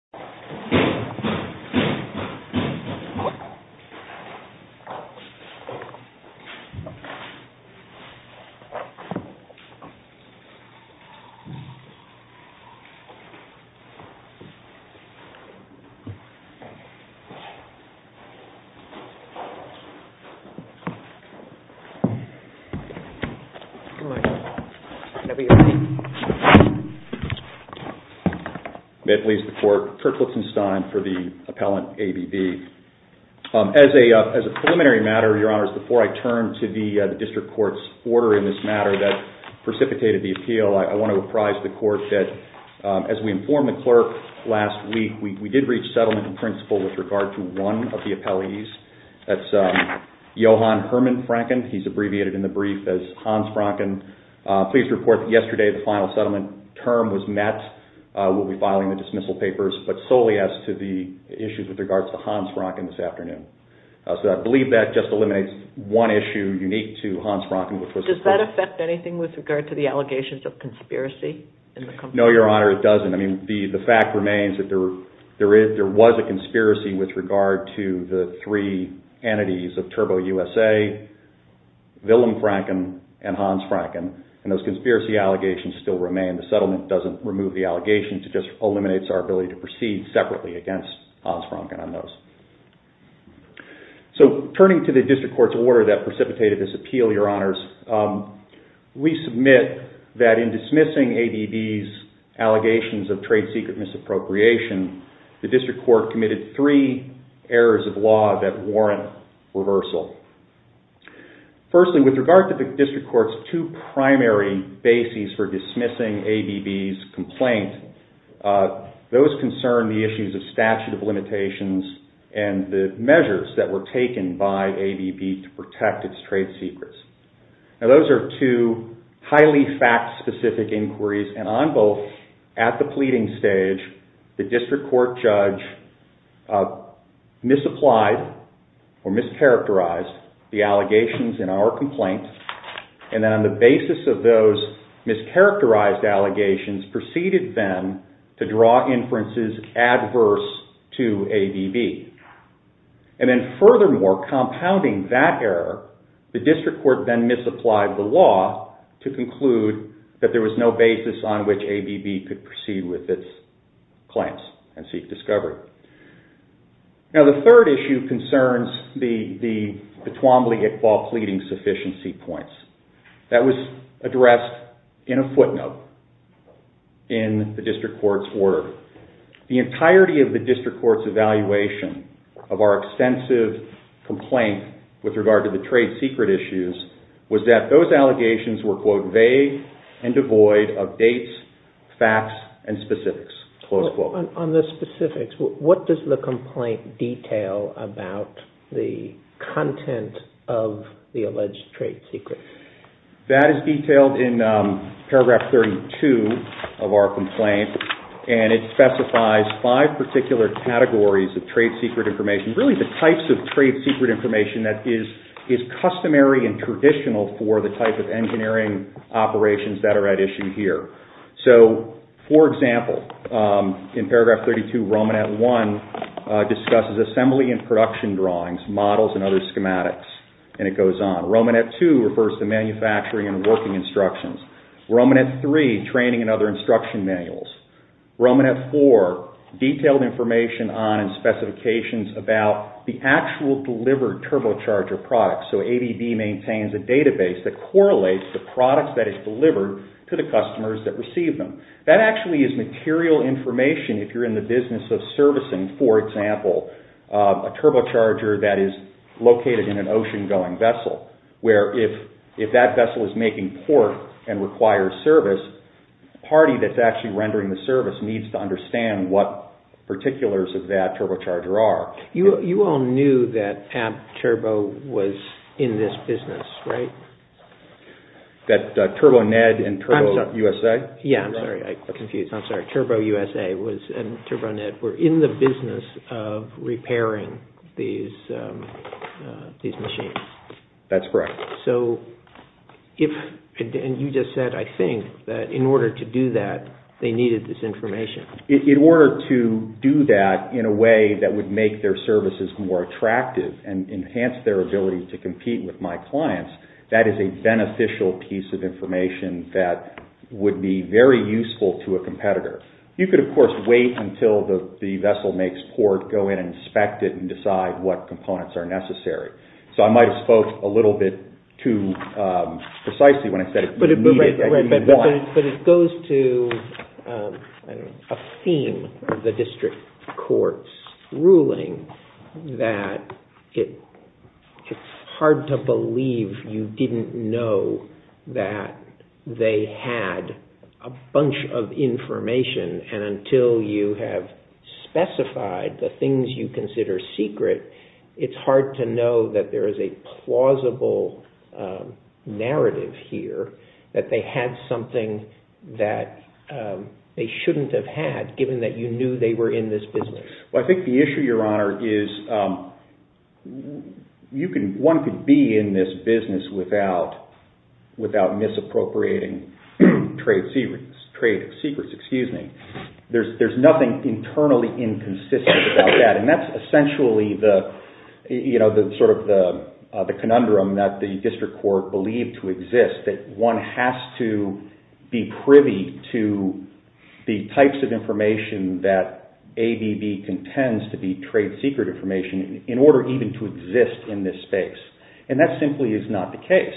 5 p.m., Wednesday, October 18, 2011 for the appellant, ABB. As a preliminary matter, your honors, before I turn to the district court's order in this matter that precipitated the appeal, I want to apprise the court that as we informed the clerk last week, we did reach settlement in principle with regard to one of the appellees. That's Johan Herman Francken. He's abbreviated in the brief as Hans Francken. Please report that yesterday the final settlement term was met. We'll be reporting solely as to the issues with regards to Hans Francken this afternoon. So I believe that just eliminates one issue unique to Hans Francken which was... Does that affect anything with regard to the allegations of conspiracy in the company? No, your honor, it doesn't. I mean, the fact remains that there was a conspiracy with regard to the three entities of Turbo USA, Willem Francken, and Hans Francken, and those conspiracy allegations still remain. The settlement doesn't remove the allegations. It just eliminates our ability to proceed separately against Hans Francken on those. So turning to the district court's order that precipitated this appeal, your honors, we submit that in dismissing ABB's allegations of trade secret misappropriation, the district court committed three errors of law that warrant reversal. Firstly, with regard to the district court's two primary bases for dismissing ABB's complaint, those concern the issues of statute of limitations and the measures that were taken by ABB to protect its trade secrets. Now those are two highly fact-specific inquiries, and on both, at the pleading stage, the district court judge misapplied or mischaracterized the allegations in our complaint, and the basis of those mischaracterized allegations preceded them to draw inferences adverse to ABB. And then furthermore, compounding that error, the district court then misapplied the law to conclude that there was no basis on which ABB could proceed with its claims and seek discovery. Now the third issue concerns the Twombly-Iqbal pleading sufficiency points. That was addressed in a footnote in the district court's order. The entirety of the district court's evaluation of our extensive complaint with regard to the trade secret issues was that those allegations were, quote, vague and devoid of dates, facts, and specifics, close quote. On the specifics, what does the complaint detail about the content of the alleged trade secret? That is detailed in paragraph 32 of our complaint, and it specifies five particular categories of trade secret information, really the types of trade secret information that is customary and traditional for the type of engineering operations that are at issue here. So, for instance, in paragraph 32, Romanet 1 discusses assembly and production drawings, models and other schematics, and it goes on. Romanet 2 refers to manufacturing and working instructions. Romanet 3, training and other instruction manuals. Romanet 4, detailed information on and specifications about the actual delivered turbocharger products. So, ABB maintains a database that correlates the products that is delivered to the customers that receive them. That actually is material information if you're in the business of servicing, for example, a turbocharger that is located in an ocean-going vessel, where if that vessel is making port and requires service, the party that's actually rendering the service needs to understand what particulars of that turbocharger are. You all knew that ABB Turbo was in this business, right? That TurboNED and TurboUSA were in the business of repairing these machines. That's correct. So, you just said, I think, that in order to do that, they needed this information. In order to do that in a way that would make their services more attractive and enhance their ability to compete with my clients, that is a beneficial piece of information that would be very useful to a competitor. You could, of course, wait until the vessel makes port, go in and inspect it and decide what components are necessary. So, I might have spoke a little bit too precisely when I said it would be needed. Right, but it goes to a theme of the district court's ruling that it would be beneficial to have a secret. It's hard to believe you didn't know that they had a bunch of information, and until you have specified the things you consider secret, it's hard to know that there is a plausible narrative here that they had something that they shouldn't have had, given that you knew they were in this business. I think the issue, Your Honor, is one could be in this business without misappropriating trade secrets. There's nothing internally inconsistent about that, and that's essentially the conundrum that the district court believed to exist, that one has to be privy to the information that it contends to be trade secret information in order even to exist in this space, and that simply is not the case.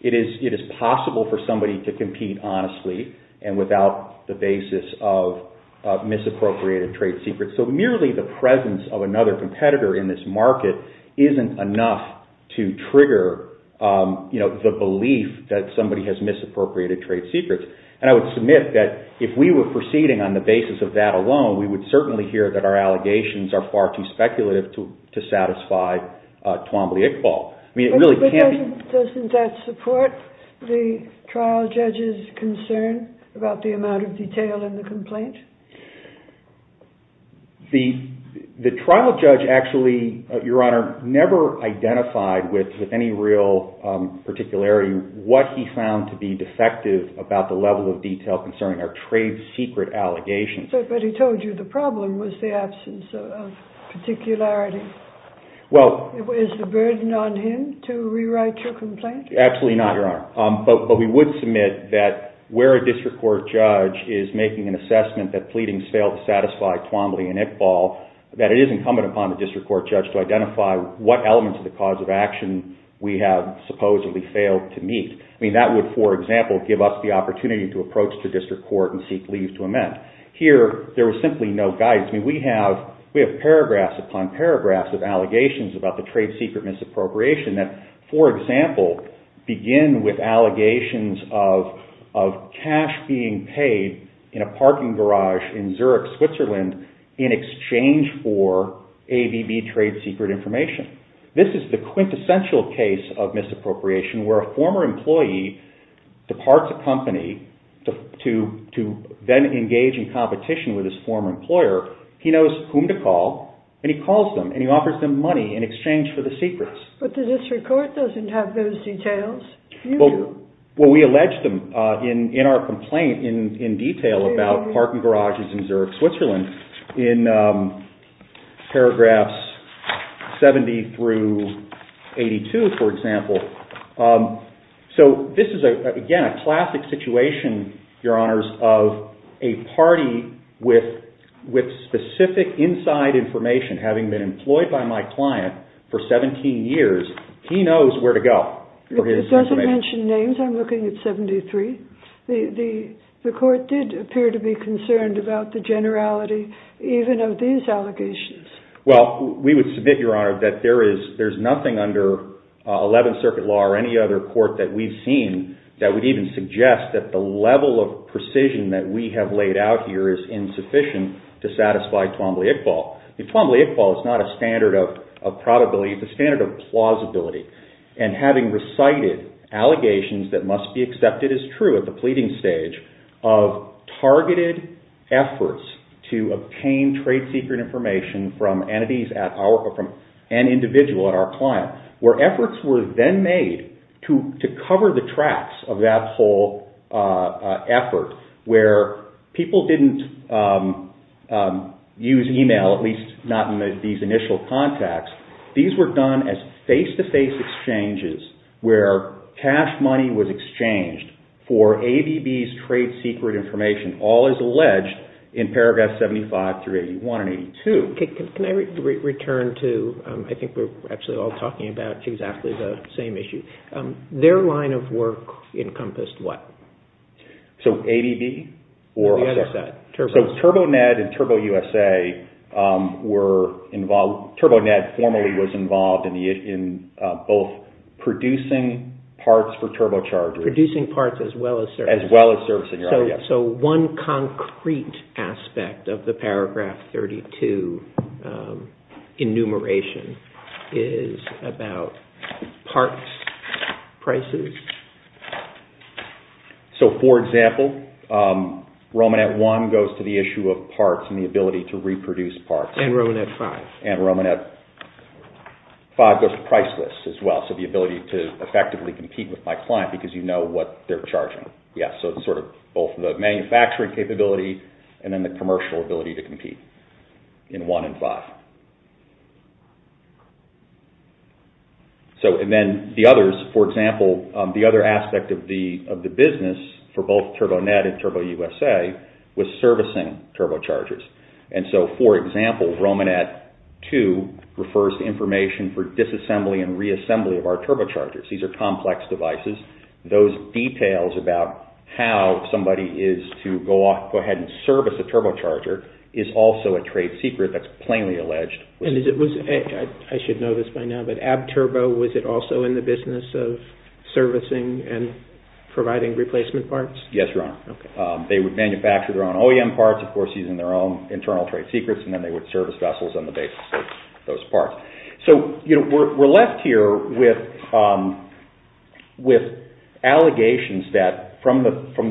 It is possible for somebody to compete honestly and without the basis of misappropriated trade secrets. So, merely the presence of another competitor in this market isn't enough to trigger the belief that somebody has misappropriated trade secrets, and I would submit that if we were proceeding on the basis of that alone, we would certainly hear that our allegations are far too speculative to satisfy Twombly-Iqbal. Doesn't that support the trial judge's concern about the amount of detail in the complaint? The trial judge actually, Your Honor, never identified with any real particularity what he found to be defective about the level of detail concerning our trade secret allegations. But he told you the problem was the absence of particularity. Is the burden on him to rewrite your complaint? Absolutely not, Your Honor. But we would submit that where a district court judge is making an assessment that pleadings fail to satisfy Twombly and Iqbal, that it is incumbent upon the district court judge to identify what elements of the cause of action we have supposedly failed to meet. I mean, that would, for example, give us the opportunity to approach the district court and seek leave to amend. Here, there was simply no guidance. I mean, we have paragraphs upon paragraphs of allegations about the trade secret misappropriation that, for example, begin with allegations of cash being paid in a parking garage in Zurich, Switzerland in exchange for ABB trade secret information. This is the quintessential case of misappropriation where a former employee departs a company to then engage in competition with his former employer. He knows whom to call, and he calls them, and he offers them money in exchange for the secrets. But the district court doesn't have those details. Well, we allege them in our complaint in detail about parking garages in Zurich, Switzerland in paragraphs 70 through 82, for example. So this is, again, a classic situation, Your Honors, of a party with specific inside information. Having been employed by my client for 17 years, he knows where to go for his information. It doesn't mention names. I'm looking at 73. The court did appear to be concerned about the generality even of these allegations. Well, we would submit, Your Honor, that there's nothing under Eleventh Circuit law or any other court that we've seen that would even suggest that the level of precision that we have laid out here is insufficient to satisfy Twombly Iqbal. Twombly Iqbal is not a standard of probability. It's a standard of plausibility. And having recited allegations that must be obtained trade secret information from an individual at our client, where efforts were then made to cover the tracks of that whole effort where people didn't use email, at least not in these initial contacts, these were done as face-to-face exchanges where cash and money was exchanged for ABB's trade secret information, all as alleged in paragraphs 75 through 81 and 82. Can I return to, I think we're actually all talking about exactly the same issue. Their line of work encompassed what? So ABB or, I'm sorry, so TurboNet and TurboUSA were involved, TurboNet formally was involved in both producing parts for turbochargers. Producing parts as well as servicing. As well as servicing, Your Honor, yes. So one concrete aspect of the paragraph 32 enumeration is about parts prices? So for example, Romanet 1 goes to the issue of parts and the ability to reproduce parts. And Romanet 5. And Romanet 5 goes to price list as well, so the ability to effectively compete with my client because you know what they're charging. Yes, so sort of both the manufacturing capability and then the commercial ability to compete in 1 and 5. So and then the others, for example, the other aspect of the business for both TurboNet and TurboUSA was servicing turbochargers. And so, for example, Romanet 2 refers to information for disassembly and reassembly of our turbochargers. These are complex devices. Those details about how somebody is to go ahead and service a turbocharger is also a trade secret that's plainly alleged. And is it, I should know this by now, but AbbTurbo, was it also in the business of servicing and providing replacement parts? Yes, Your Honor. They would manufacture their own OEM parts, of course, using their own internal trade secrets, and then they would service vessels on the basis of those parts. So we're left here with allegations that both from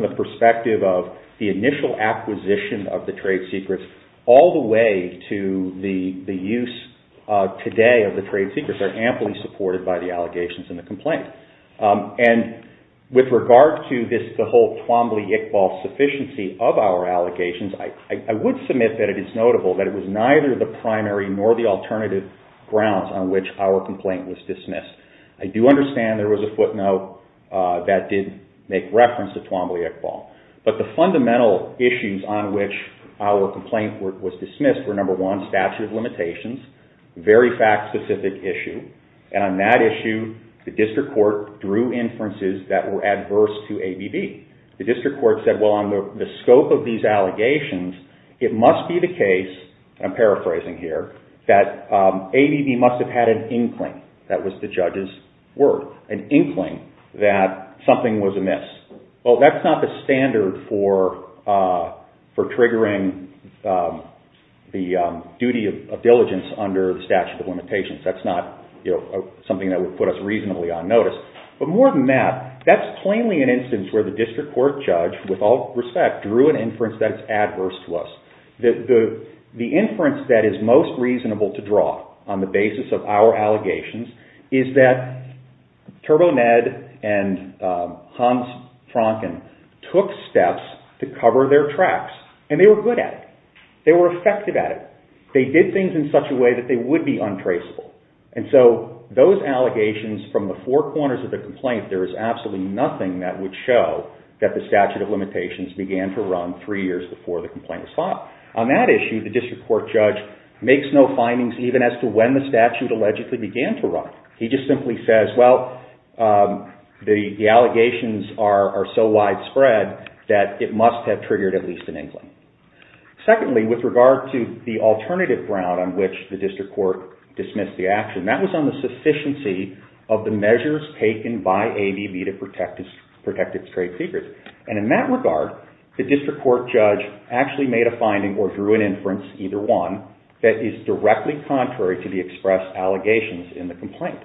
the perspective of the initial acquisition of the trade secrets all the way to the use today of the trade secrets are amply supported by the allegations and the complaint. And with regard to this, the whole Twombly-Iqbal sufficiency of our allegations, I would submit that it is notable that it was neither the primary nor the alternative grounds on which our complaint was dismissed. I do understand there was a footnote that did make reference to Twombly-Iqbal. But the fundamental issues on which our complaint was dismissed were, number one, statute of We had a judge who drew inferences that were adverse to ABB. The district court said, well, on the scope of these allegations, it must be the case, I'm paraphrasing here, that ABB must have had an inkling, that was the judge's word, an inkling that something was amiss. Well, that's not the standard for triggering the duty of diligence under the statute of limitations. That's not something that would put us reasonably on notice. But more than that, that's plainly an instance where the district court judge, with all respect, drew an inference that is adverse to us. The inference that is most reasonable to draw on the basis of our allegations is that TurboNED and Hans Franken took steps to cover their tracks, and they were good at it. They were effective at it. They did things in such a way that they would be untraceable. And so those allegations from the four corners of the complaint, there is absolutely nothing that would show that the statute of limitations began to run three years before the complaint was filed. On that issue, the district court judge makes no findings even as to when the statute allegedly began to run. He just simply says, well, the allegations are so widespread that it must have triggered at least an inkling. Secondly, with regard to the alternative ground on which the district court dismissed the action, that was on the sufficiency of the measures taken by ABB to protect its trade secrets. And in that regard, the district court judge actually made a finding or drew an inference, either one, that is directly contrary to the expressed allegations in the complaint.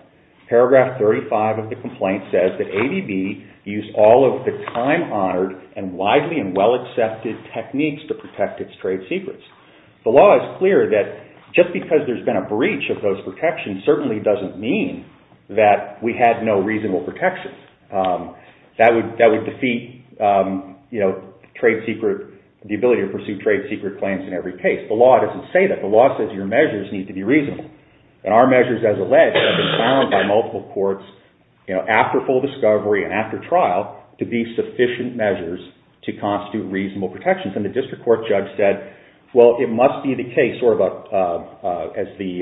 Paragraph 35 of the complaint says that ABB used all of the time-honored and widely and widely used techniques to protect its trade secrets. The law is clear that just because there's been a breach of those protections certainly doesn't mean that we had no reasonable protections. That would defeat the ability to pursue trade secret claims in every case. The law doesn't say that. The law says your measures need to be reasonable. And our measures, as alleged, have been found by multiple courts after full discovery and after trial to be sufficient measures to constitute reasonable protections. And the district court judge said, well, it must be the case, or as the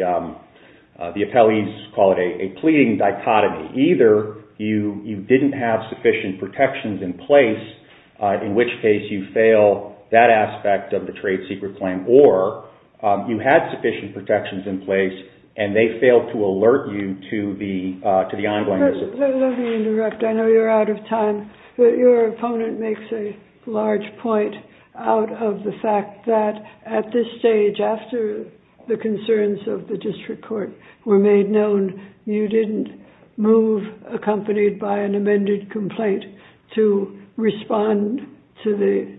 appellees call it, a pleading dichotomy. Either you didn't have sufficient protections in place, in which case you fail that aspect of the trade secret claim, or you had sufficient protections in place and they failed to alert you to the ongoing... Let me interrupt. I know you're out of time, but your opponent makes a large point out of the fact that at this stage, after the concerns of the district court were made known, you didn't move accompanied by an amended complaint to respond to the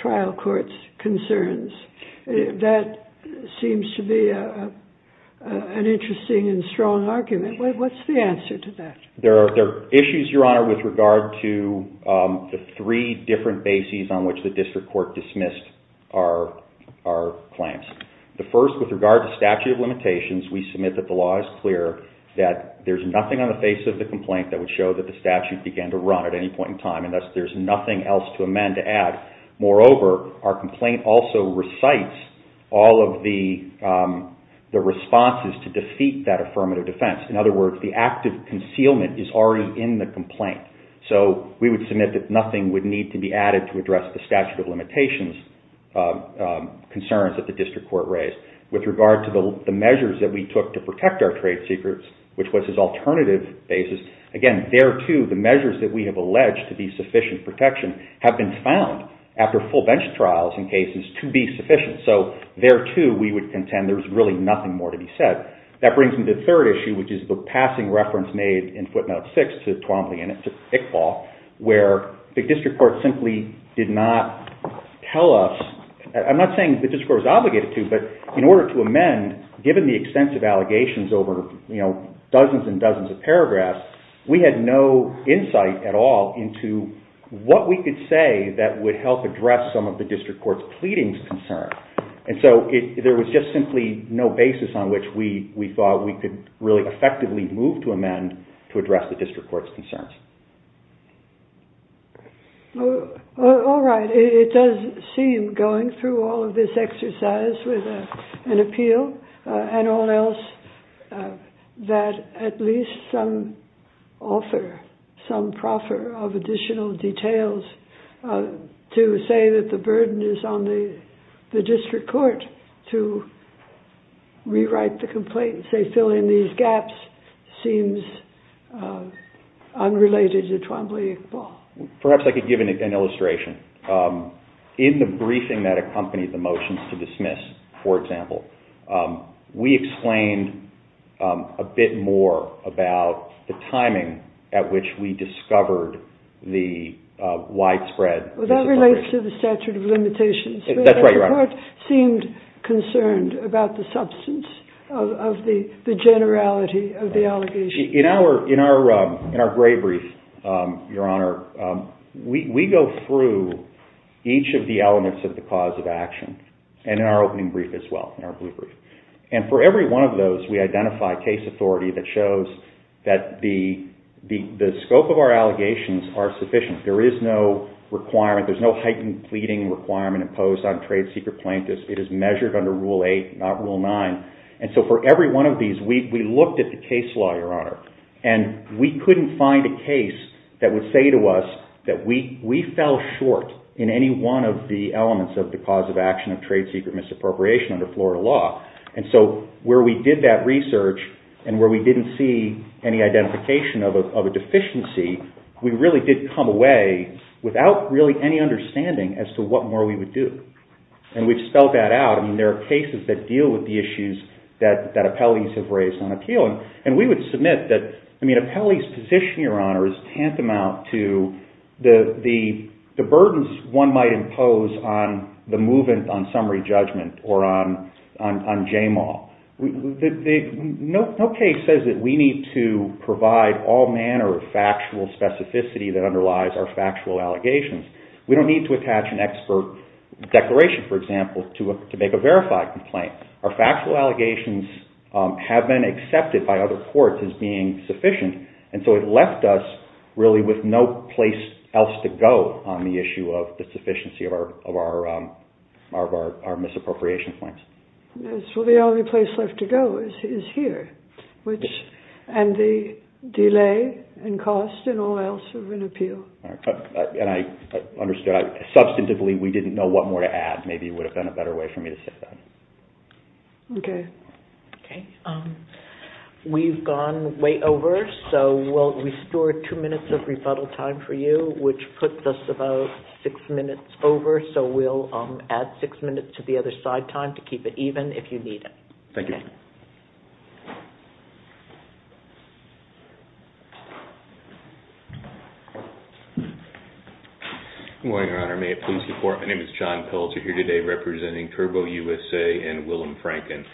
trial court's concerns. That seems to be an interesting and strong argument. What's the answer to that? There are issues, Your Honor, with regard to the three different bases on which the district court dismissed our claims. The first, with regard to statute of limitations, we submit that the law is clear that there's nothing on the face of the complaint that would show that the statute began to run at any point in time. And thus, there's nothing else to amend to add. Moreover, our complaint also recites all of the responses to defeat that affirmative defense. In other words, the act of concealment is already in the complaint. So we would submit that nothing would need to be added to address the statute of limitations concerns that the district court raised. With regard to the measures that we took to protect our trade secrets, which was this alternative basis, again, there too, the measures that we have alleged to be sufficient protection have been found after full bench trials in cases to be sufficient. So there too, we would contend there's really nothing more to be said. That brings me to the third issue, which is the passing reference made in footnote six to Twombly and Iqbal, where the district court simply did not tell us, I'm not saying the district court was obligated to, but in order to amend, given the extensive allegations over dozens and dozens of paragraphs, we had no insight at all into what we could say that would help address some of the district court's pleadings concern. And so there was just simply no basis on which we thought we could really effectively move to amend to address the district court's concerns. All right. It does seem, going through all of this exercise with an appeal and all else, that at least some offer, some proffer of additional details to say that the burden is on the district court to rewrite the complaint and say, fill in these gaps seems unrelated to Twombly and Iqbal. Perhaps I could give an illustration. In the briefing that accompanied the motions to dismiss, for example, we explained a bit more about the timing at which we discovered the widespread... Well, that relates to the statute of limitations. That's right. The court seemed concerned about the substance of the generality of the allegations. In our gray brief, Your Honor, we go through each of the elements of the cause of action and in our opening brief as well, in our blue brief. For every one of those, we identify case authority that shows that the scope of our allegations are sufficient. There is no requirement, there's no heightened pleading requirement imposed on trade secret plaintiffs. It is measured under Rule 8, not Rule 9. So for every one of these, we looked at the case law, Your Honor, and we couldn't find a case that would say to us that we fell short in any one of the elements of the cause of action of trade secret misappropriation under Florida law. And so where we did that research and where we didn't see any identification of a deficiency, we really did come away without really any understanding as to what more we would do. And we've spelled that out. I mean, there are cases that deal with the issues that appellees have raised on appeal. And we would submit that, I mean, appellees' position, Your Honor, is tantamount to the case on summary judgment or on JMAW. No case says that we need to provide all manner of factual specificity that underlies our factual allegations. We don't need to attach an expert declaration, for example, to make a verified complaint. Our factual allegations have been accepted by other courts as being sufficient. And so it left us, really, with no place else to go on the issue of the sufficiency of our misappropriation claims. Yes. Well, the only place left to go is here, and the delay and cost and all else of an appeal. And I understood. Substantively, we didn't know what more to add. Maybe it would have been a better way for me to say that. Okay. Okay. We've gone way over, so we'll restore two minutes of rebuttal time for you, which puts us about six minutes over, so we'll add six minutes to the other side time to keep it even if you need it. Thank you. Good morning, Your Honor. May it please the Court? My name is John Peltz. You're here today representing TurboUSA and Willem Franken.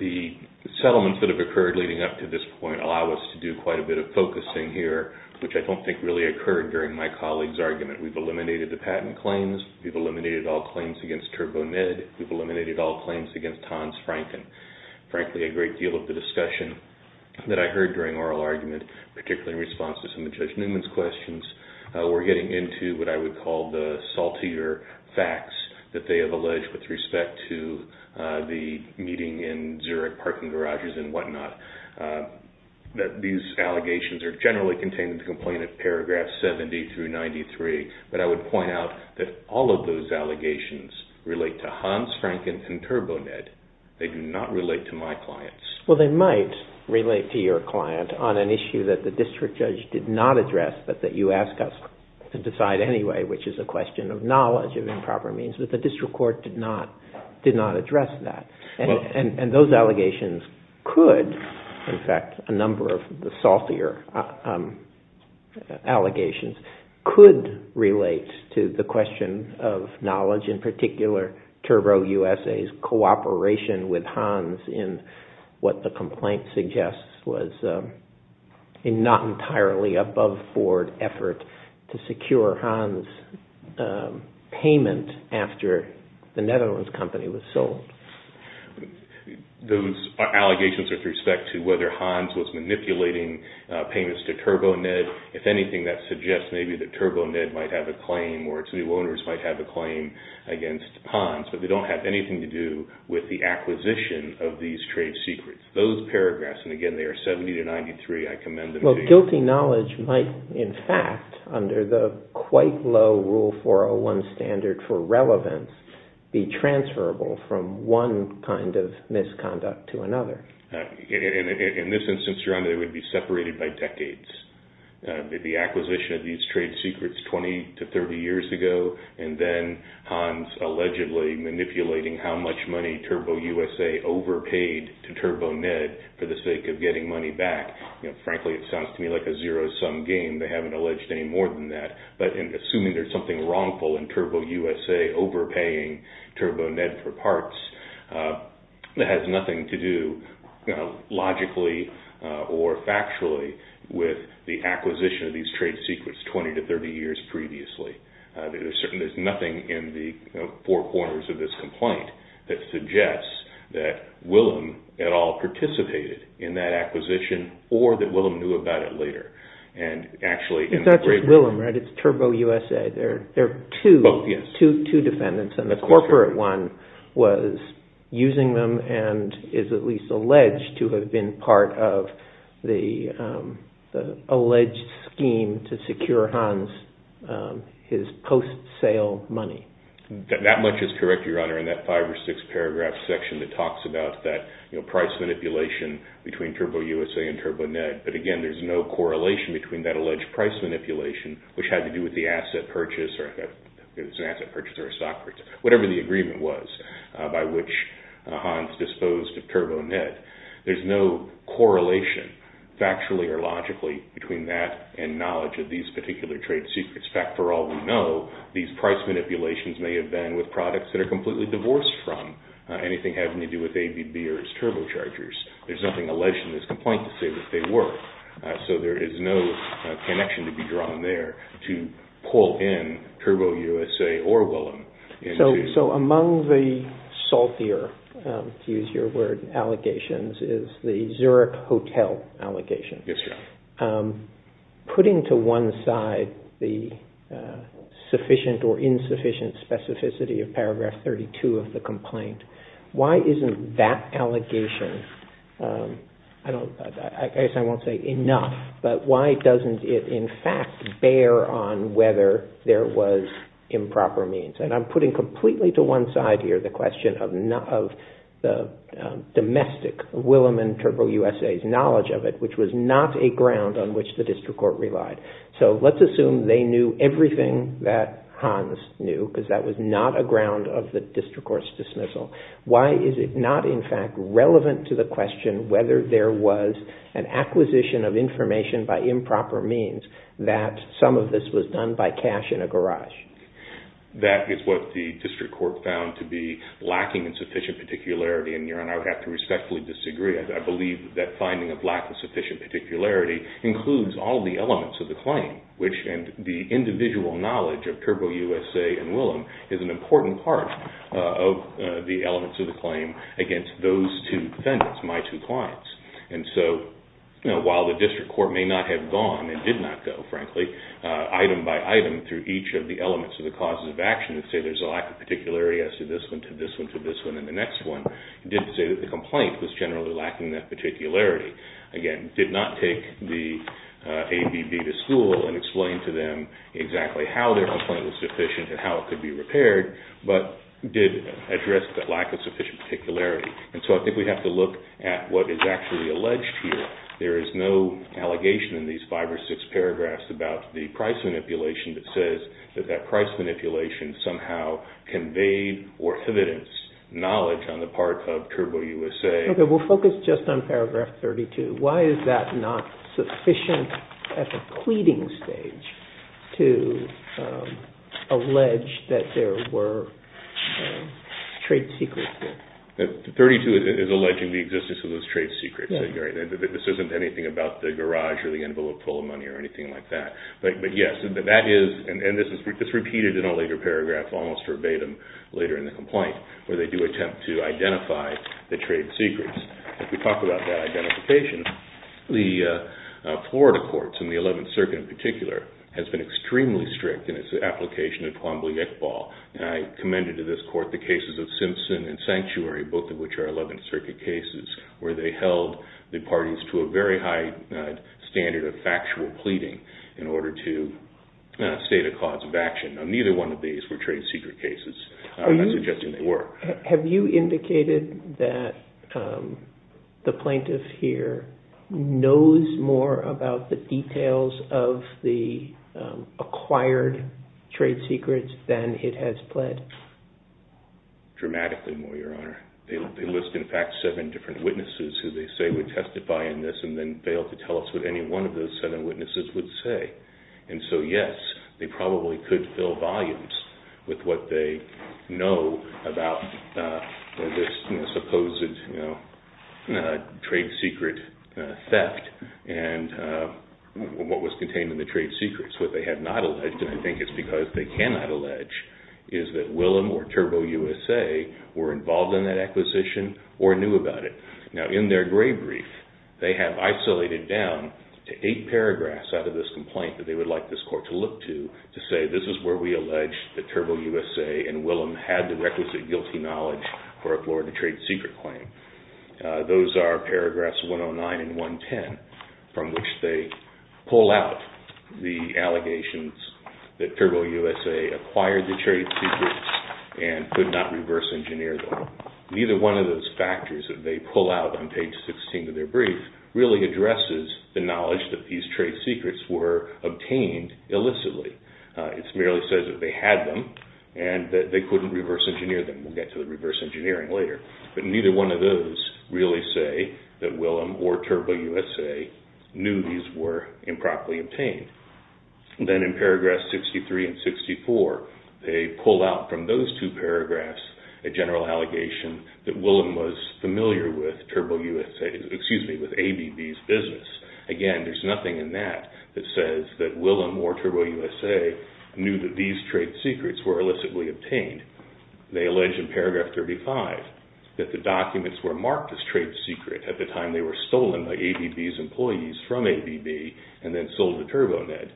The settlements that have occurred leading up to this point allow us to do quite a bit of focusing here, which I don't think really occurred during my colleague's argument. We've eliminated the patent claims. We've eliminated all claims against TurboMed. We've eliminated all claims against Tons Franken. Frankly, a great deal of the discussion that I heard during oral argument, particularly in response to some of Judge Newman's questions, we're getting into what I would call the saltier facts that they have alleged with respect to the meeting in Zurich parking garages and whatnot, that these allegations are generally contained in the complaint at paragraph 70 through 93, but I would point out that all of those allegations relate to Hans Franken and TurboMed. They do not relate to my clients. Well, they might relate to your client on an issue that the district judge did not address, but that you ask us to decide anyway, which is a question of knowledge of improper means, but the district court did not address that. Those allegations could, in fact, a number of the saltier allegations could relate to the question of knowledge, in particular TurboUSA's cooperation with Hans in what the complaint suggests was a not entirely above board effort to secure Hans' payment after the Netherlands company was sold. Those allegations are with respect to whether Hans was manipulating payments to TurboMed. If anything, that suggests maybe that TurboMed might have a claim or its new owners might have a claim against Hans, but they don't have anything to do with the acquisition of these trade secrets. Those paragraphs, and again, they are 70 to 93, I commend them to you. Well, guilty knowledge might, in fact, under the quite low Rule 401 standard for relevance, be transferable from one kind of misconduct to another. In this instance, Your Honor, they would be separated by decades. The acquisition of these trade secrets 20 to 30 years ago and then Hans allegedly manipulating how much money TurboUSA overpaid to TurboMed for the sake of getting money back, frankly, it sounds to me like a zero-sum game. They haven't alleged any more than that, but in assuming there's something wrongful in TurboUSA overpaying TurboMed for parts, it has nothing to do logically or factually with the acquisition of these trade secrets 20 to 30 years previously. There's nothing in the four corners of this complaint that suggests that Willem at all participated in that acquisition or that Willem knew about it later. It's not just Willem, right? It's TurboUSA. There are two defendants, and the corporate one was using them and is at least alleged to have been part of the alleged scheme to secure Hans his post-sale money. That much is correct, Your Honor, in that five or six-paragraph section that talks about that price manipulation between TurboUSA and TurboMed, but again, there's no correlation between that alleged price manipulation, which had to do with the asset purchase or a stock purchase, whatever the agreement was by which Hans disposed of TurboMed. There's no correlation factually or logically between that and knowledge of these particular trade secrets. In fact, for all we know, these price manipulations may have been with products that are completely divorced from anything having to do with ABB or its turbochargers. There's nothing alleged in this complaint to say that they were, so there is no connection to be drawn there to pull in TurboUSA or Willem. So among the saltier, to use your word, allegations is the Zurich Hotel allegation. Yes, Your Honor. Putting to one side the sufficient or insufficient specificity of paragraph 32 of the complaint, why isn't that allegation, I guess I won't say enough, but why doesn't it in fact bear on whether there was improper means? And I'm putting completely to one side here the question of the domestic Willem and TurboUSA's knowledge of it, which was not a ground on which the district court relied. So let's assume they knew everything that Hans knew because that was not a ground of the district court's dismissal. Why is it not in fact relevant to the question whether there was an acquisition of information by improper means that some of this was done by cash in a garage? That is what the district court found to be lacking in sufficient particularity, and Your Honor, I would have to respectfully disagree. I believe that finding a lack of sufficient particularity includes all the elements of the claim, which the individual knowledge of TurboUSA and Willem is an important part of the elements of the claim against those two defendants, my two clients. So while the district court may not have gone and did not go, frankly, item by item through each of the elements of the causes of action that say there's a lack of particularity as to this one to this one to this one and the next one, it did say that the complaint was generally lacking that particularity. Again, did not take the ABB to school and explain to them exactly how their complaint was sufficient and how it could be repaired, but did address that lack of sufficient particularity. And so I think we have to look at what is actually alleged here. There is no allegation in these five or six paragraphs about the price manipulation that says that that price manipulation somehow conveyed or evidenced knowledge on the part of TurboUSA. Okay, we'll focus just on paragraph 32. Why is that not sufficient at the pleading stage to allege that there were trade secrets there? 32 is alleging the existence of those trade secrets. This isn't anything about the garage or the envelope full of money or anything like that. But yes, that is, and this is repeated in a later paragraph almost verbatim later in the complaint, where they do attempt to identify the trade secrets. If we talk about that identification, the Florida courts and the 11th Circuit in particular has been extremely strict in its application of Quambly-Iqbal, and I commended to this both of which are 11th Circuit cases, where they held the parties to a very high standard of factual pleading in order to state a cause of action. Now, neither one of these were trade secret cases. I'm not suggesting they were. Have you indicated that the plaintiff here knows more about the details of the acquired trade secrets than it has pled? Dramatically more, Your Honor. They list, in fact, seven different witnesses who they say would testify in this and then fail to tell us what any one of those seven witnesses would say. And so, yes, they probably could fill volumes with what they know about this supposed trade secret theft and what was contained in the trade secrets. What they have not alleged, and I think it's because they cannot allege, is that we have no evidence that Willem or Turbo USA were involved in that acquisition or knew about it. Now, in their grave brief, they have isolated down to eight paragraphs out of this complaint that they would like this court to look to, to say this is where we allege that Turbo USA and Willem had the requisite guilty knowledge for a Florida trade secret claim. Those are paragraphs 109 and 110, from which they pull out the allegations that Turbo USA acquired the trade secrets and could not reverse engineer them. Neither one of those factors that they pull out on page 16 of their brief really addresses the knowledge that these trade secrets were obtained illicitly. It merely says that they had them and that they couldn't reverse engineer them. We'll get to the reverse engineering later. But neither one of those really say that Willem or Turbo USA knew these were improperly obtained. Then in paragraphs 63 and 64, they pull out from those two paragraphs a general allegation that Willem was familiar with Turbo USA, excuse me, with ABB's business. Again, there's nothing in that that says that Willem or Turbo USA knew that these trade secrets were illicitly obtained. They allege in paragraph 35 that the documents were marked as trade secret at the time they were stolen by ABB's employees from ABB and then sold to Turbonet.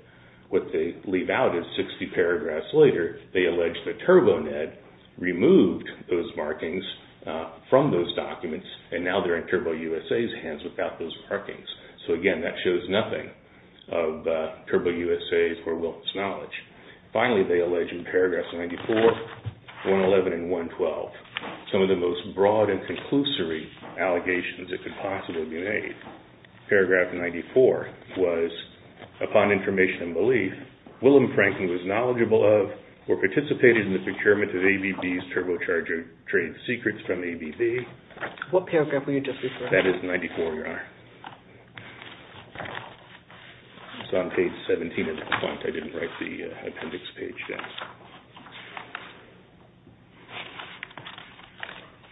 What they leave out is 60 paragraphs later, they allege that Turbonet removed those markings from those documents and now they're in Turbo USA's hands without those markings. So again, that shows nothing of Turbo USA's or Willem's knowledge. Finally, they allege in paragraphs 94, 111, and 112, some of the most broad and Paragraph 94 was, upon information and belief, Willem Franken was knowledgeable of, or participated in the procurement of ABB's turbocharger trade secrets from ABB. What paragraph were you just referring to? That is 94, Your Honor. It's on page 17 of the font. I didn't write the appendix page down.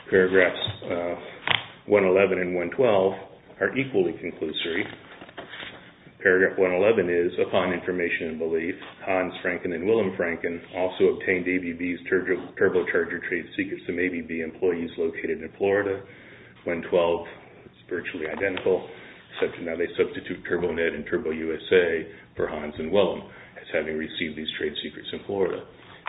Paragraphs 111 and 112 are equally conclusory. Paragraph 111 is, upon information and belief, Hans Franken and Willem Franken also obtained ABB's turbocharger trade secrets from ABB employees located in Florida. 112 is virtually identical, except now they substitute Turbonet and Turbo USA for Hans and Willem as having received these trade secrets in Florida.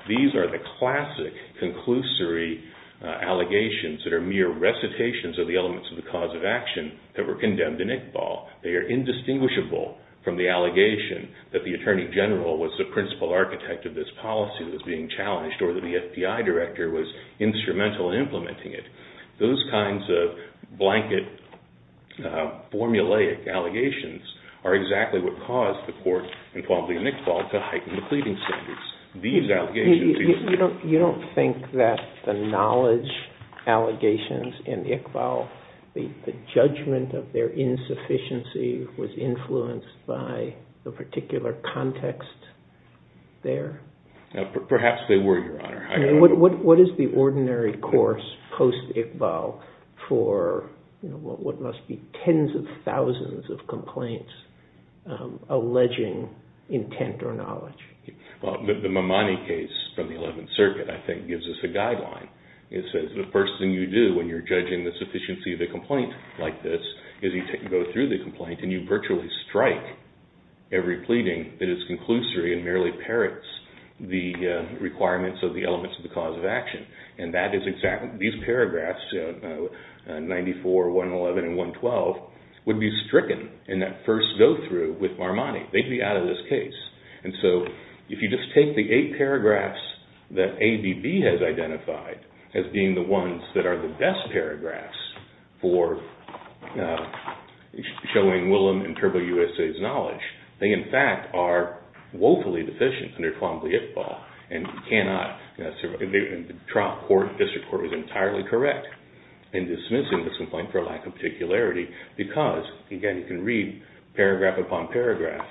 These are the classic conclusory allegations that are mere recitations of the elements of the cause of action that were condemned in Iqbal. They are indistinguishable from the allegation that the Attorney General was the principal architect of this policy that was being challenged or that the FBI director was instrumental in implementing it. Those kinds of blanket, formulaic allegations are exactly what caused the court, and probably in Iqbal, to heighten the pleading standards. You don't think that the knowledge allegations in Iqbal, the judgment of their insufficiency was influenced by the particular context there? Perhaps they were, Your Honor. What is the ordinary course post-Iqbal for what must be tens of thousands of complaints alleging intent or knowledge? The Mamani case from the 11th Circuit, I think, gives us a guideline. It says the first thing you do when you're judging the sufficiency of a complaint like this is you go through the complaint and you virtually strike every pleading that is the elements of the cause of action. And that is exactly what these paragraphs, 94, 111, and 112, would be stricken in that first go-through with Mamani. They'd be out of this case. And so if you just take the eight paragraphs that ABB has identified as being the ones that are the best paragraphs for showing Willem and Turbo USA's knowledge, they in fact are woefully deficient under Qanbi Iqbal. And the district court was entirely correct in dismissing this complaint for lack of particularity because, again, you can read paragraph upon paragraph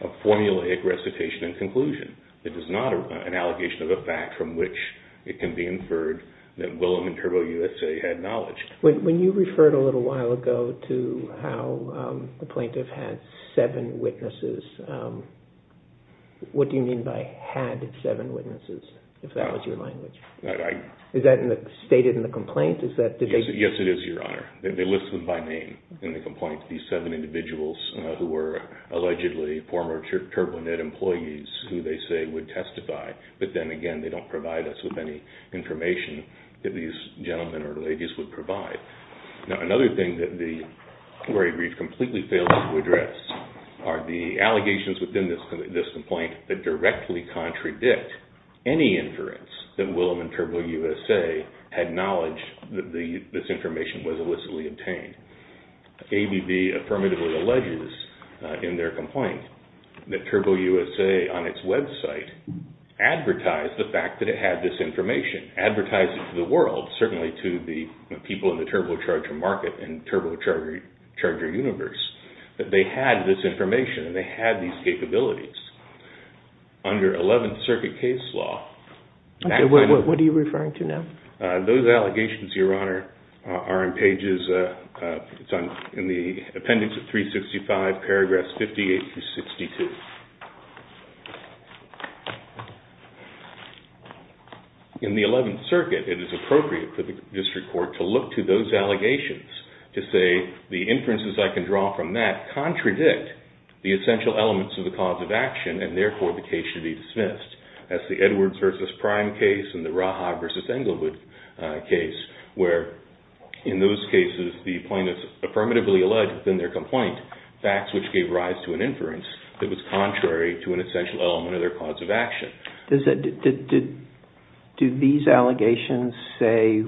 of formulaic recitation and conclusion. It is not an allegation of a fact from which it can be inferred that Willem and Turbo USA had knowledge. When you referred a little while ago to how the plaintiff had seven witnesses, what do you mean by had seven witnesses, if that was your language? Is that stated in the complaint? Yes, it is, Your Honor. They list them by name in the complaint, these seven individuals who were allegedly former TurboNet employees who they say would testify. But then again, they don't provide us with any information that these gentlemen or ladies would provide. Now, another thing that the query brief completely failed to address are the allegations within this complaint that directly contradict any inference that Willem and Turbo USA had knowledge that this information was illicitly obtained. ABB affirmatively alleges in their complaint that Turbo USA on its website advertised the world, certainly to the people in the turbocharger market and turbocharger universe, that they had this information and they had these capabilities. Under Eleventh Circuit case law... Okay, what are you referring to now? Those allegations, Your Honor, are in pages, it's in the appendix of 365, paragraphs 58 through 62. In the Eleventh Circuit, it is appropriate for the district court to look to those allegations to say the inferences I can draw from that contradict the essential elements of the cause of action and therefore the case should be dismissed. That's the Edwards versus Prime case and the Rahab versus Englewood case where in those cases the plaintiff affirmatively alleged within their complaint facts which gave rise to an inference that was contrary to the law. Contrary to an essential element of their cause of action. Do these allegations say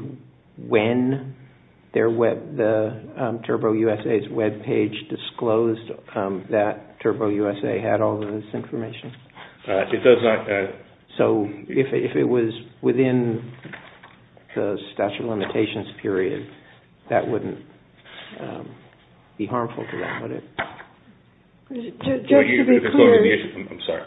when the Turbo USA's webpage disclosed that Turbo USA had all this information? So if it was within the statute of limitations period, that wouldn't be harmful to them, would it? Judge, to be clear... I'm sorry.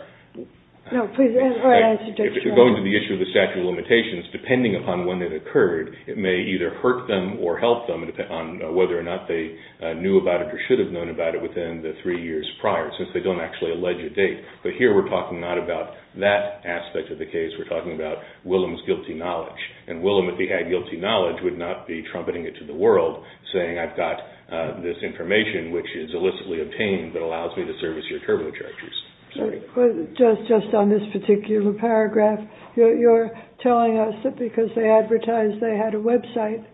No, please, go ahead. If you're going to the issue of the statute of limitations, depending upon when it occurred, it may either hurt them or help them on whether or not they knew about it or should have known about it within the three years prior since they don't actually allege a date. But here we're talking not about that aspect of the case, we're talking about Willem's guilty knowledge. And Willem, if he had guilty knowledge, would not be trumpeting it to the world saying I've this information which is illicitly obtained but allows me to service your turbochargers. Just on this particular paragraph, you're telling us that because they advertised they had a website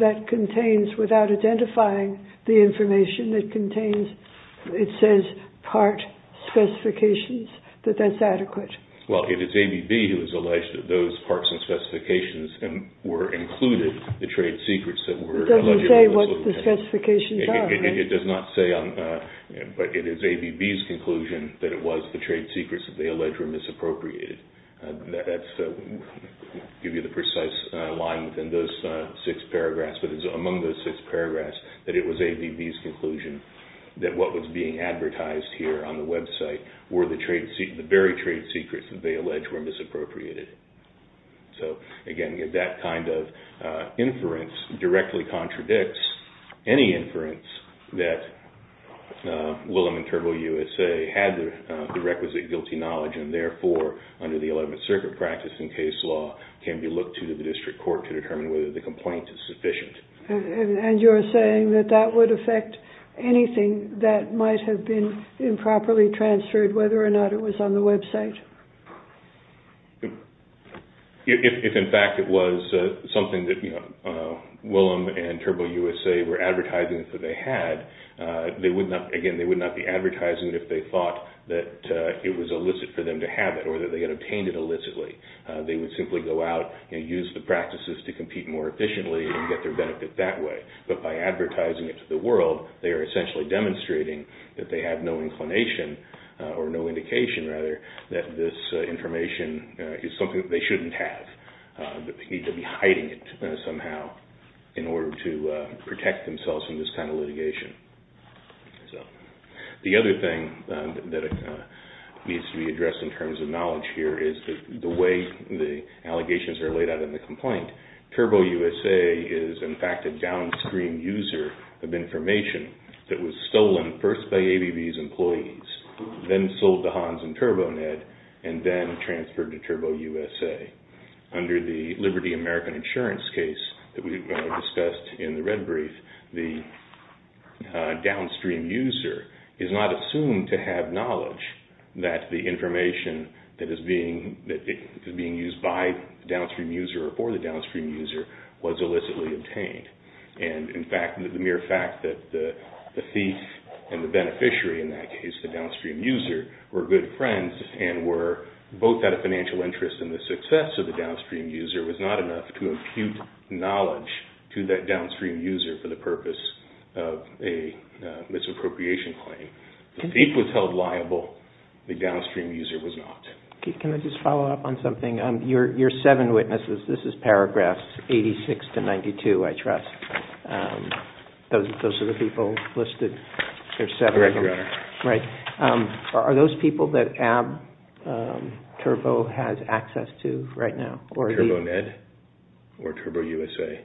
that contains, without identifying the information that contains, it says part specifications, that that's adequate. Well, it is ABB who has alleged that those parts and specifications were included, the trade secrets that were... It doesn't say what the specifications are, right? It does not say, but it is ABB's conclusion that it was the trade secrets that they allege were misappropriated. That's to give you the precise line within those six paragraphs, but it's among those six paragraphs that it was ABB's conclusion that what was being advertised here on the website were the very trade secrets that they allege were misappropriated. So, again, that kind of inference directly contradicts any inference that Willem and TurboUSA had the requisite guilty knowledge and therefore, under the 11th Circuit practice in case law, can be looked to the district court to determine whether the complaint is sufficient. And you're saying that that would affect anything that might have been improperly transferred, whether or not it was on the website? If, in fact, it was something that Willem and TurboUSA were advertising that they had, they would not... Again, they would not be advertising it if they thought that it was illicit for them to have it or that they had obtained it illicitly. They would simply go out and use the practices to compete more efficiently and get their benefit that way. But by advertising it to the world, they are essentially demonstrating that they have no they shouldn't have, that they need to be hiding it somehow in order to protect themselves from this kind of litigation. So, the other thing that needs to be addressed in terms of knowledge here is the way the allegations are laid out in the complaint. TurboUSA is, in fact, a downstream user of information that was stolen first by ABB's and then transferred to TurboUSA. Under the Liberty American Insurance case that we discussed in the red brief, the downstream user is not assumed to have knowledge that the information that is being used by the downstream user or for the downstream user was illicitly obtained. And, in fact, the mere fact that the thief and the beneficiary in that case, the downstream user, were good friends and were both out of financial interest in the success of the downstream user was not enough to impute knowledge to that downstream user for the purpose of a misappropriation claim. The thief was held liable. The downstream user was not. Can I just follow up on something? Your seven witnesses, this is paragraphs 86 to 92, I trust. Those are the people listed. There are seven of them. Right. Are those people that ABB Turbo has access to right now? TurboMed or TurboUSA?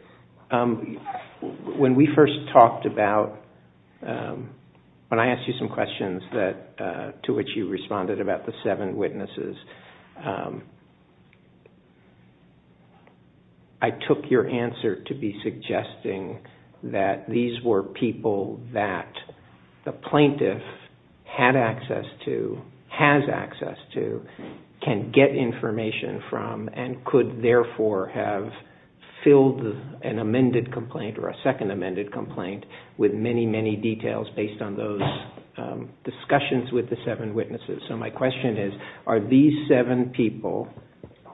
When we first talked about, when I asked you some questions to which you responded about the seven witnesses, I took your answer to be suggesting that these were people that the plaintiff had access to, has access to, can get information from, and could therefore have filled an amended complaint or a second amended complaint with many, many details based on those discussions with the seven witnesses. So my question is, are these seven people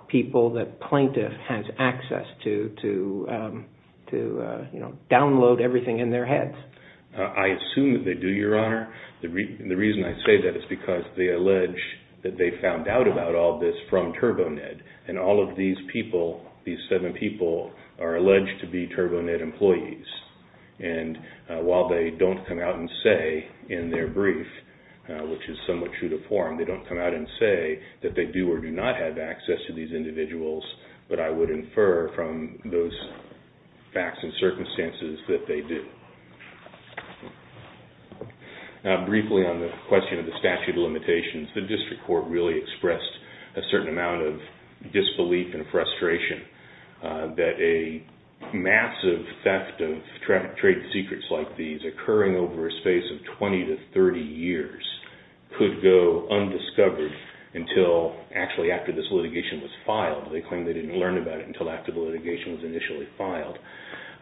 people that plaintiff has access to to download everything in their heads? I assume that they do, Your Honor. The reason I say that is because they allege that they found out about all this from TurboMed and all of these people, these seven people, are alleged to be TurboMed employees. And while they don't come out and say in their brief, which is somewhat true to form, they don't come out and say that they do or do not have access to these individuals, but I would infer from those facts and circumstances that they do. Now, briefly on the question of the statute of limitations, the district court really expressed a certain amount of disbelief and frustration that a massive theft of trade secrets like these occurring over a space of 20 to 30 years could go undiscovered until actually after this litigation was filed. They claim they didn't learn about it until after the litigation was initially filed.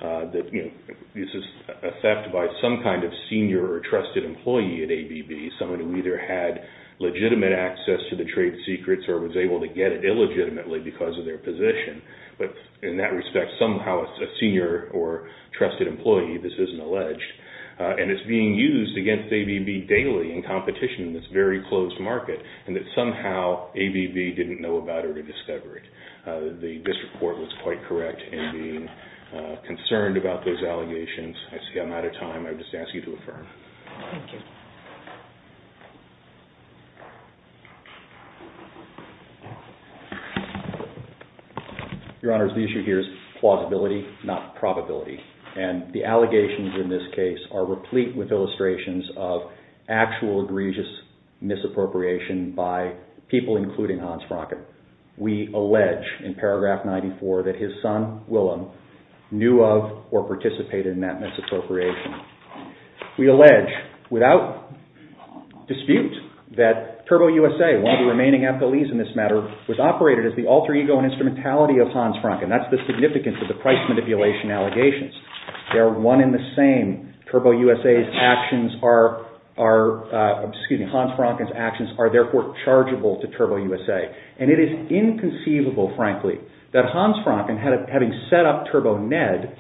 That, you know, this is a theft by some kind of senior or trusted employee at ABB, someone who either had legitimate access to the trade secrets or was able to get it illegitimately because of their position. But in that respect, somehow a senior or trusted employee, this isn't alleged. And it's being used against ABB daily in competition in this very closed market and that somehow ABB didn't know about it or discover it. The district court was quite correct in being concerned about those allegations. I see I'm out of time. I would just ask you to affirm. Thank you. Your Honor, the issue here is plausibility, not probability. And the allegations in this case are replete with illustrations of actual egregious misappropriation by people, including Hans Franken. We allege in paragraph 94 that his son, Willem, knew of or participated in that misappropriation. We allege without dispute that Turbo USA, one of the remaining affilies in this matter, was operated as the alter ego and instrumentality of Hans Franken. That's the significance of the price manipulation allegations. They're one in the same. Turbo USA's actions are, excuse me, Hans Franken's actions are therefore chargeable to Turbo USA. And it is inconceivable, frankly, that Hans Franken, having set up Turbo Ned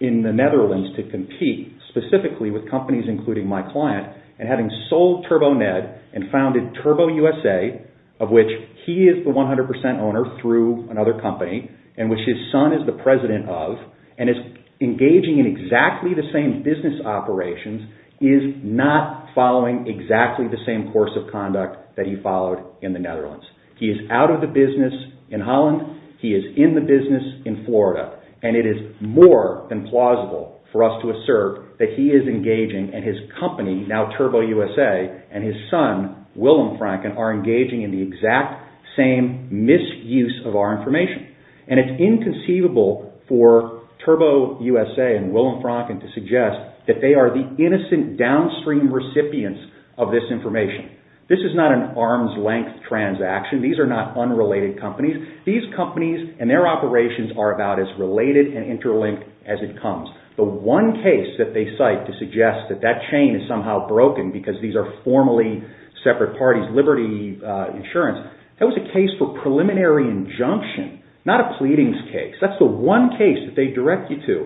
in the Netherlands to compete specifically with companies including my client and having sold Turbo Ned and founded Turbo USA, of which he is the 100% owner through another company and which his son is the president of and is engaging in exactly the same business operations, is not following exactly the same course of conduct that he followed in the Netherlands. He is out of the business in Holland. He is in the business in Florida. And it is more than plausible for us to assert that he is engaging and his company, now Turbo USA, and his son, Willem Franken, are engaging in the exact same misuse of our information. And it's inconceivable for Turbo USA and Willem Franken to suggest that they are the innocent downstream recipients of this information. This is not an arm's length transaction. These are not unrelated companies. These companies and their operations are about as related and interlinked as it comes. The one case that they cite to suggest that that chain is somehow broken because these are formally separate parties, Liberty Insurance, that was a case for preliminary injunction, not a pleadings case. That's the one case that they direct you to.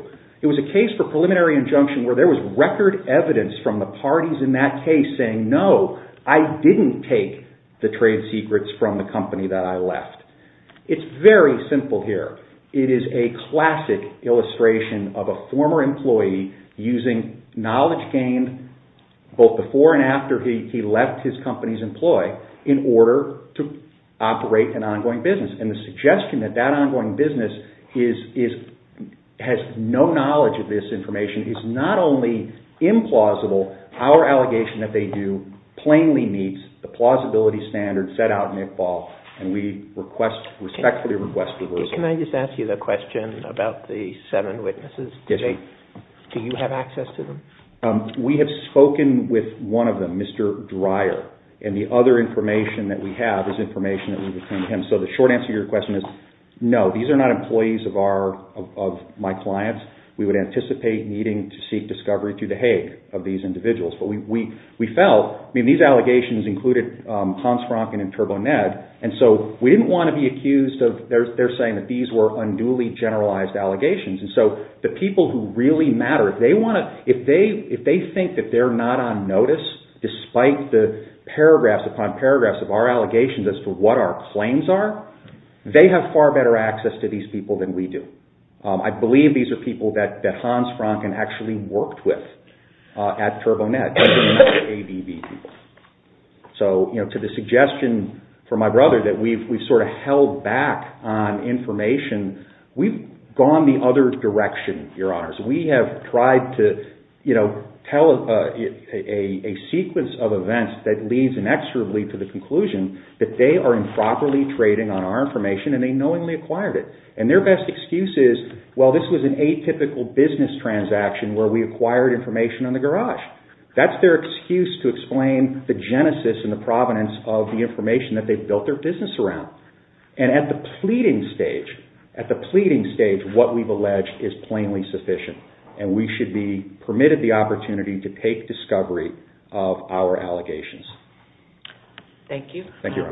It was a case for preliminary injunction where there was record evidence from the parties in that case saying, no, I didn't take the trade secrets from the company that I left. It's very simple here. It is a classic illustration of a former employee using knowledge gained both before and after he left his company's employ in order to operate an ongoing business. And the suggestion that that ongoing business has no knowledge of this information is not only implausible, our allegation that they do plainly meets the plausibility standard set out in Iqbal, and we respectfully request that it be resolved. Can I just ask you the question about the seven witnesses? Yes, sir. Do you have access to them? We have spoken with one of them, Mr. Dreyer, and the other information that we have is information that we've obtained from him. So the short answer to your question is, no, these are not employees of my clients. We would anticipate needing to seek discovery through the Hague of these individuals. But we felt, I mean, these allegations included Hans Francken and Turbo Ned, and so we didn't want to be accused of, they're saying that these were unduly generalized allegations. And so the people who really matter, if they want to, if they think that they're not on notice despite the paragraphs upon paragraphs of our allegations as to what our claims are, they have far better access to these people than we do. I believe these are people that Hans Francken actually worked with at Turbo Ned. So, you know, to the suggestion from my brother that we've sort of held back on information, we've gone the other direction, Your Honors. We have tried to, you know, tell a sequence of events that leads inexorably to the conclusion that they are improperly trading on our information and they knowingly acquired it. And their best excuse is, well, this was an atypical business transaction where we acquired information on the garage. That's their excuse to explain the genesis and the provenance of the information that they built their business around. And at the pleading stage, at the pleading stage, what we've alleged is plainly sufficient and we should be permitted the opportunity to take discovery of our allegations. Thank you. Thank you, Your Honors. Thank you, Your Honor.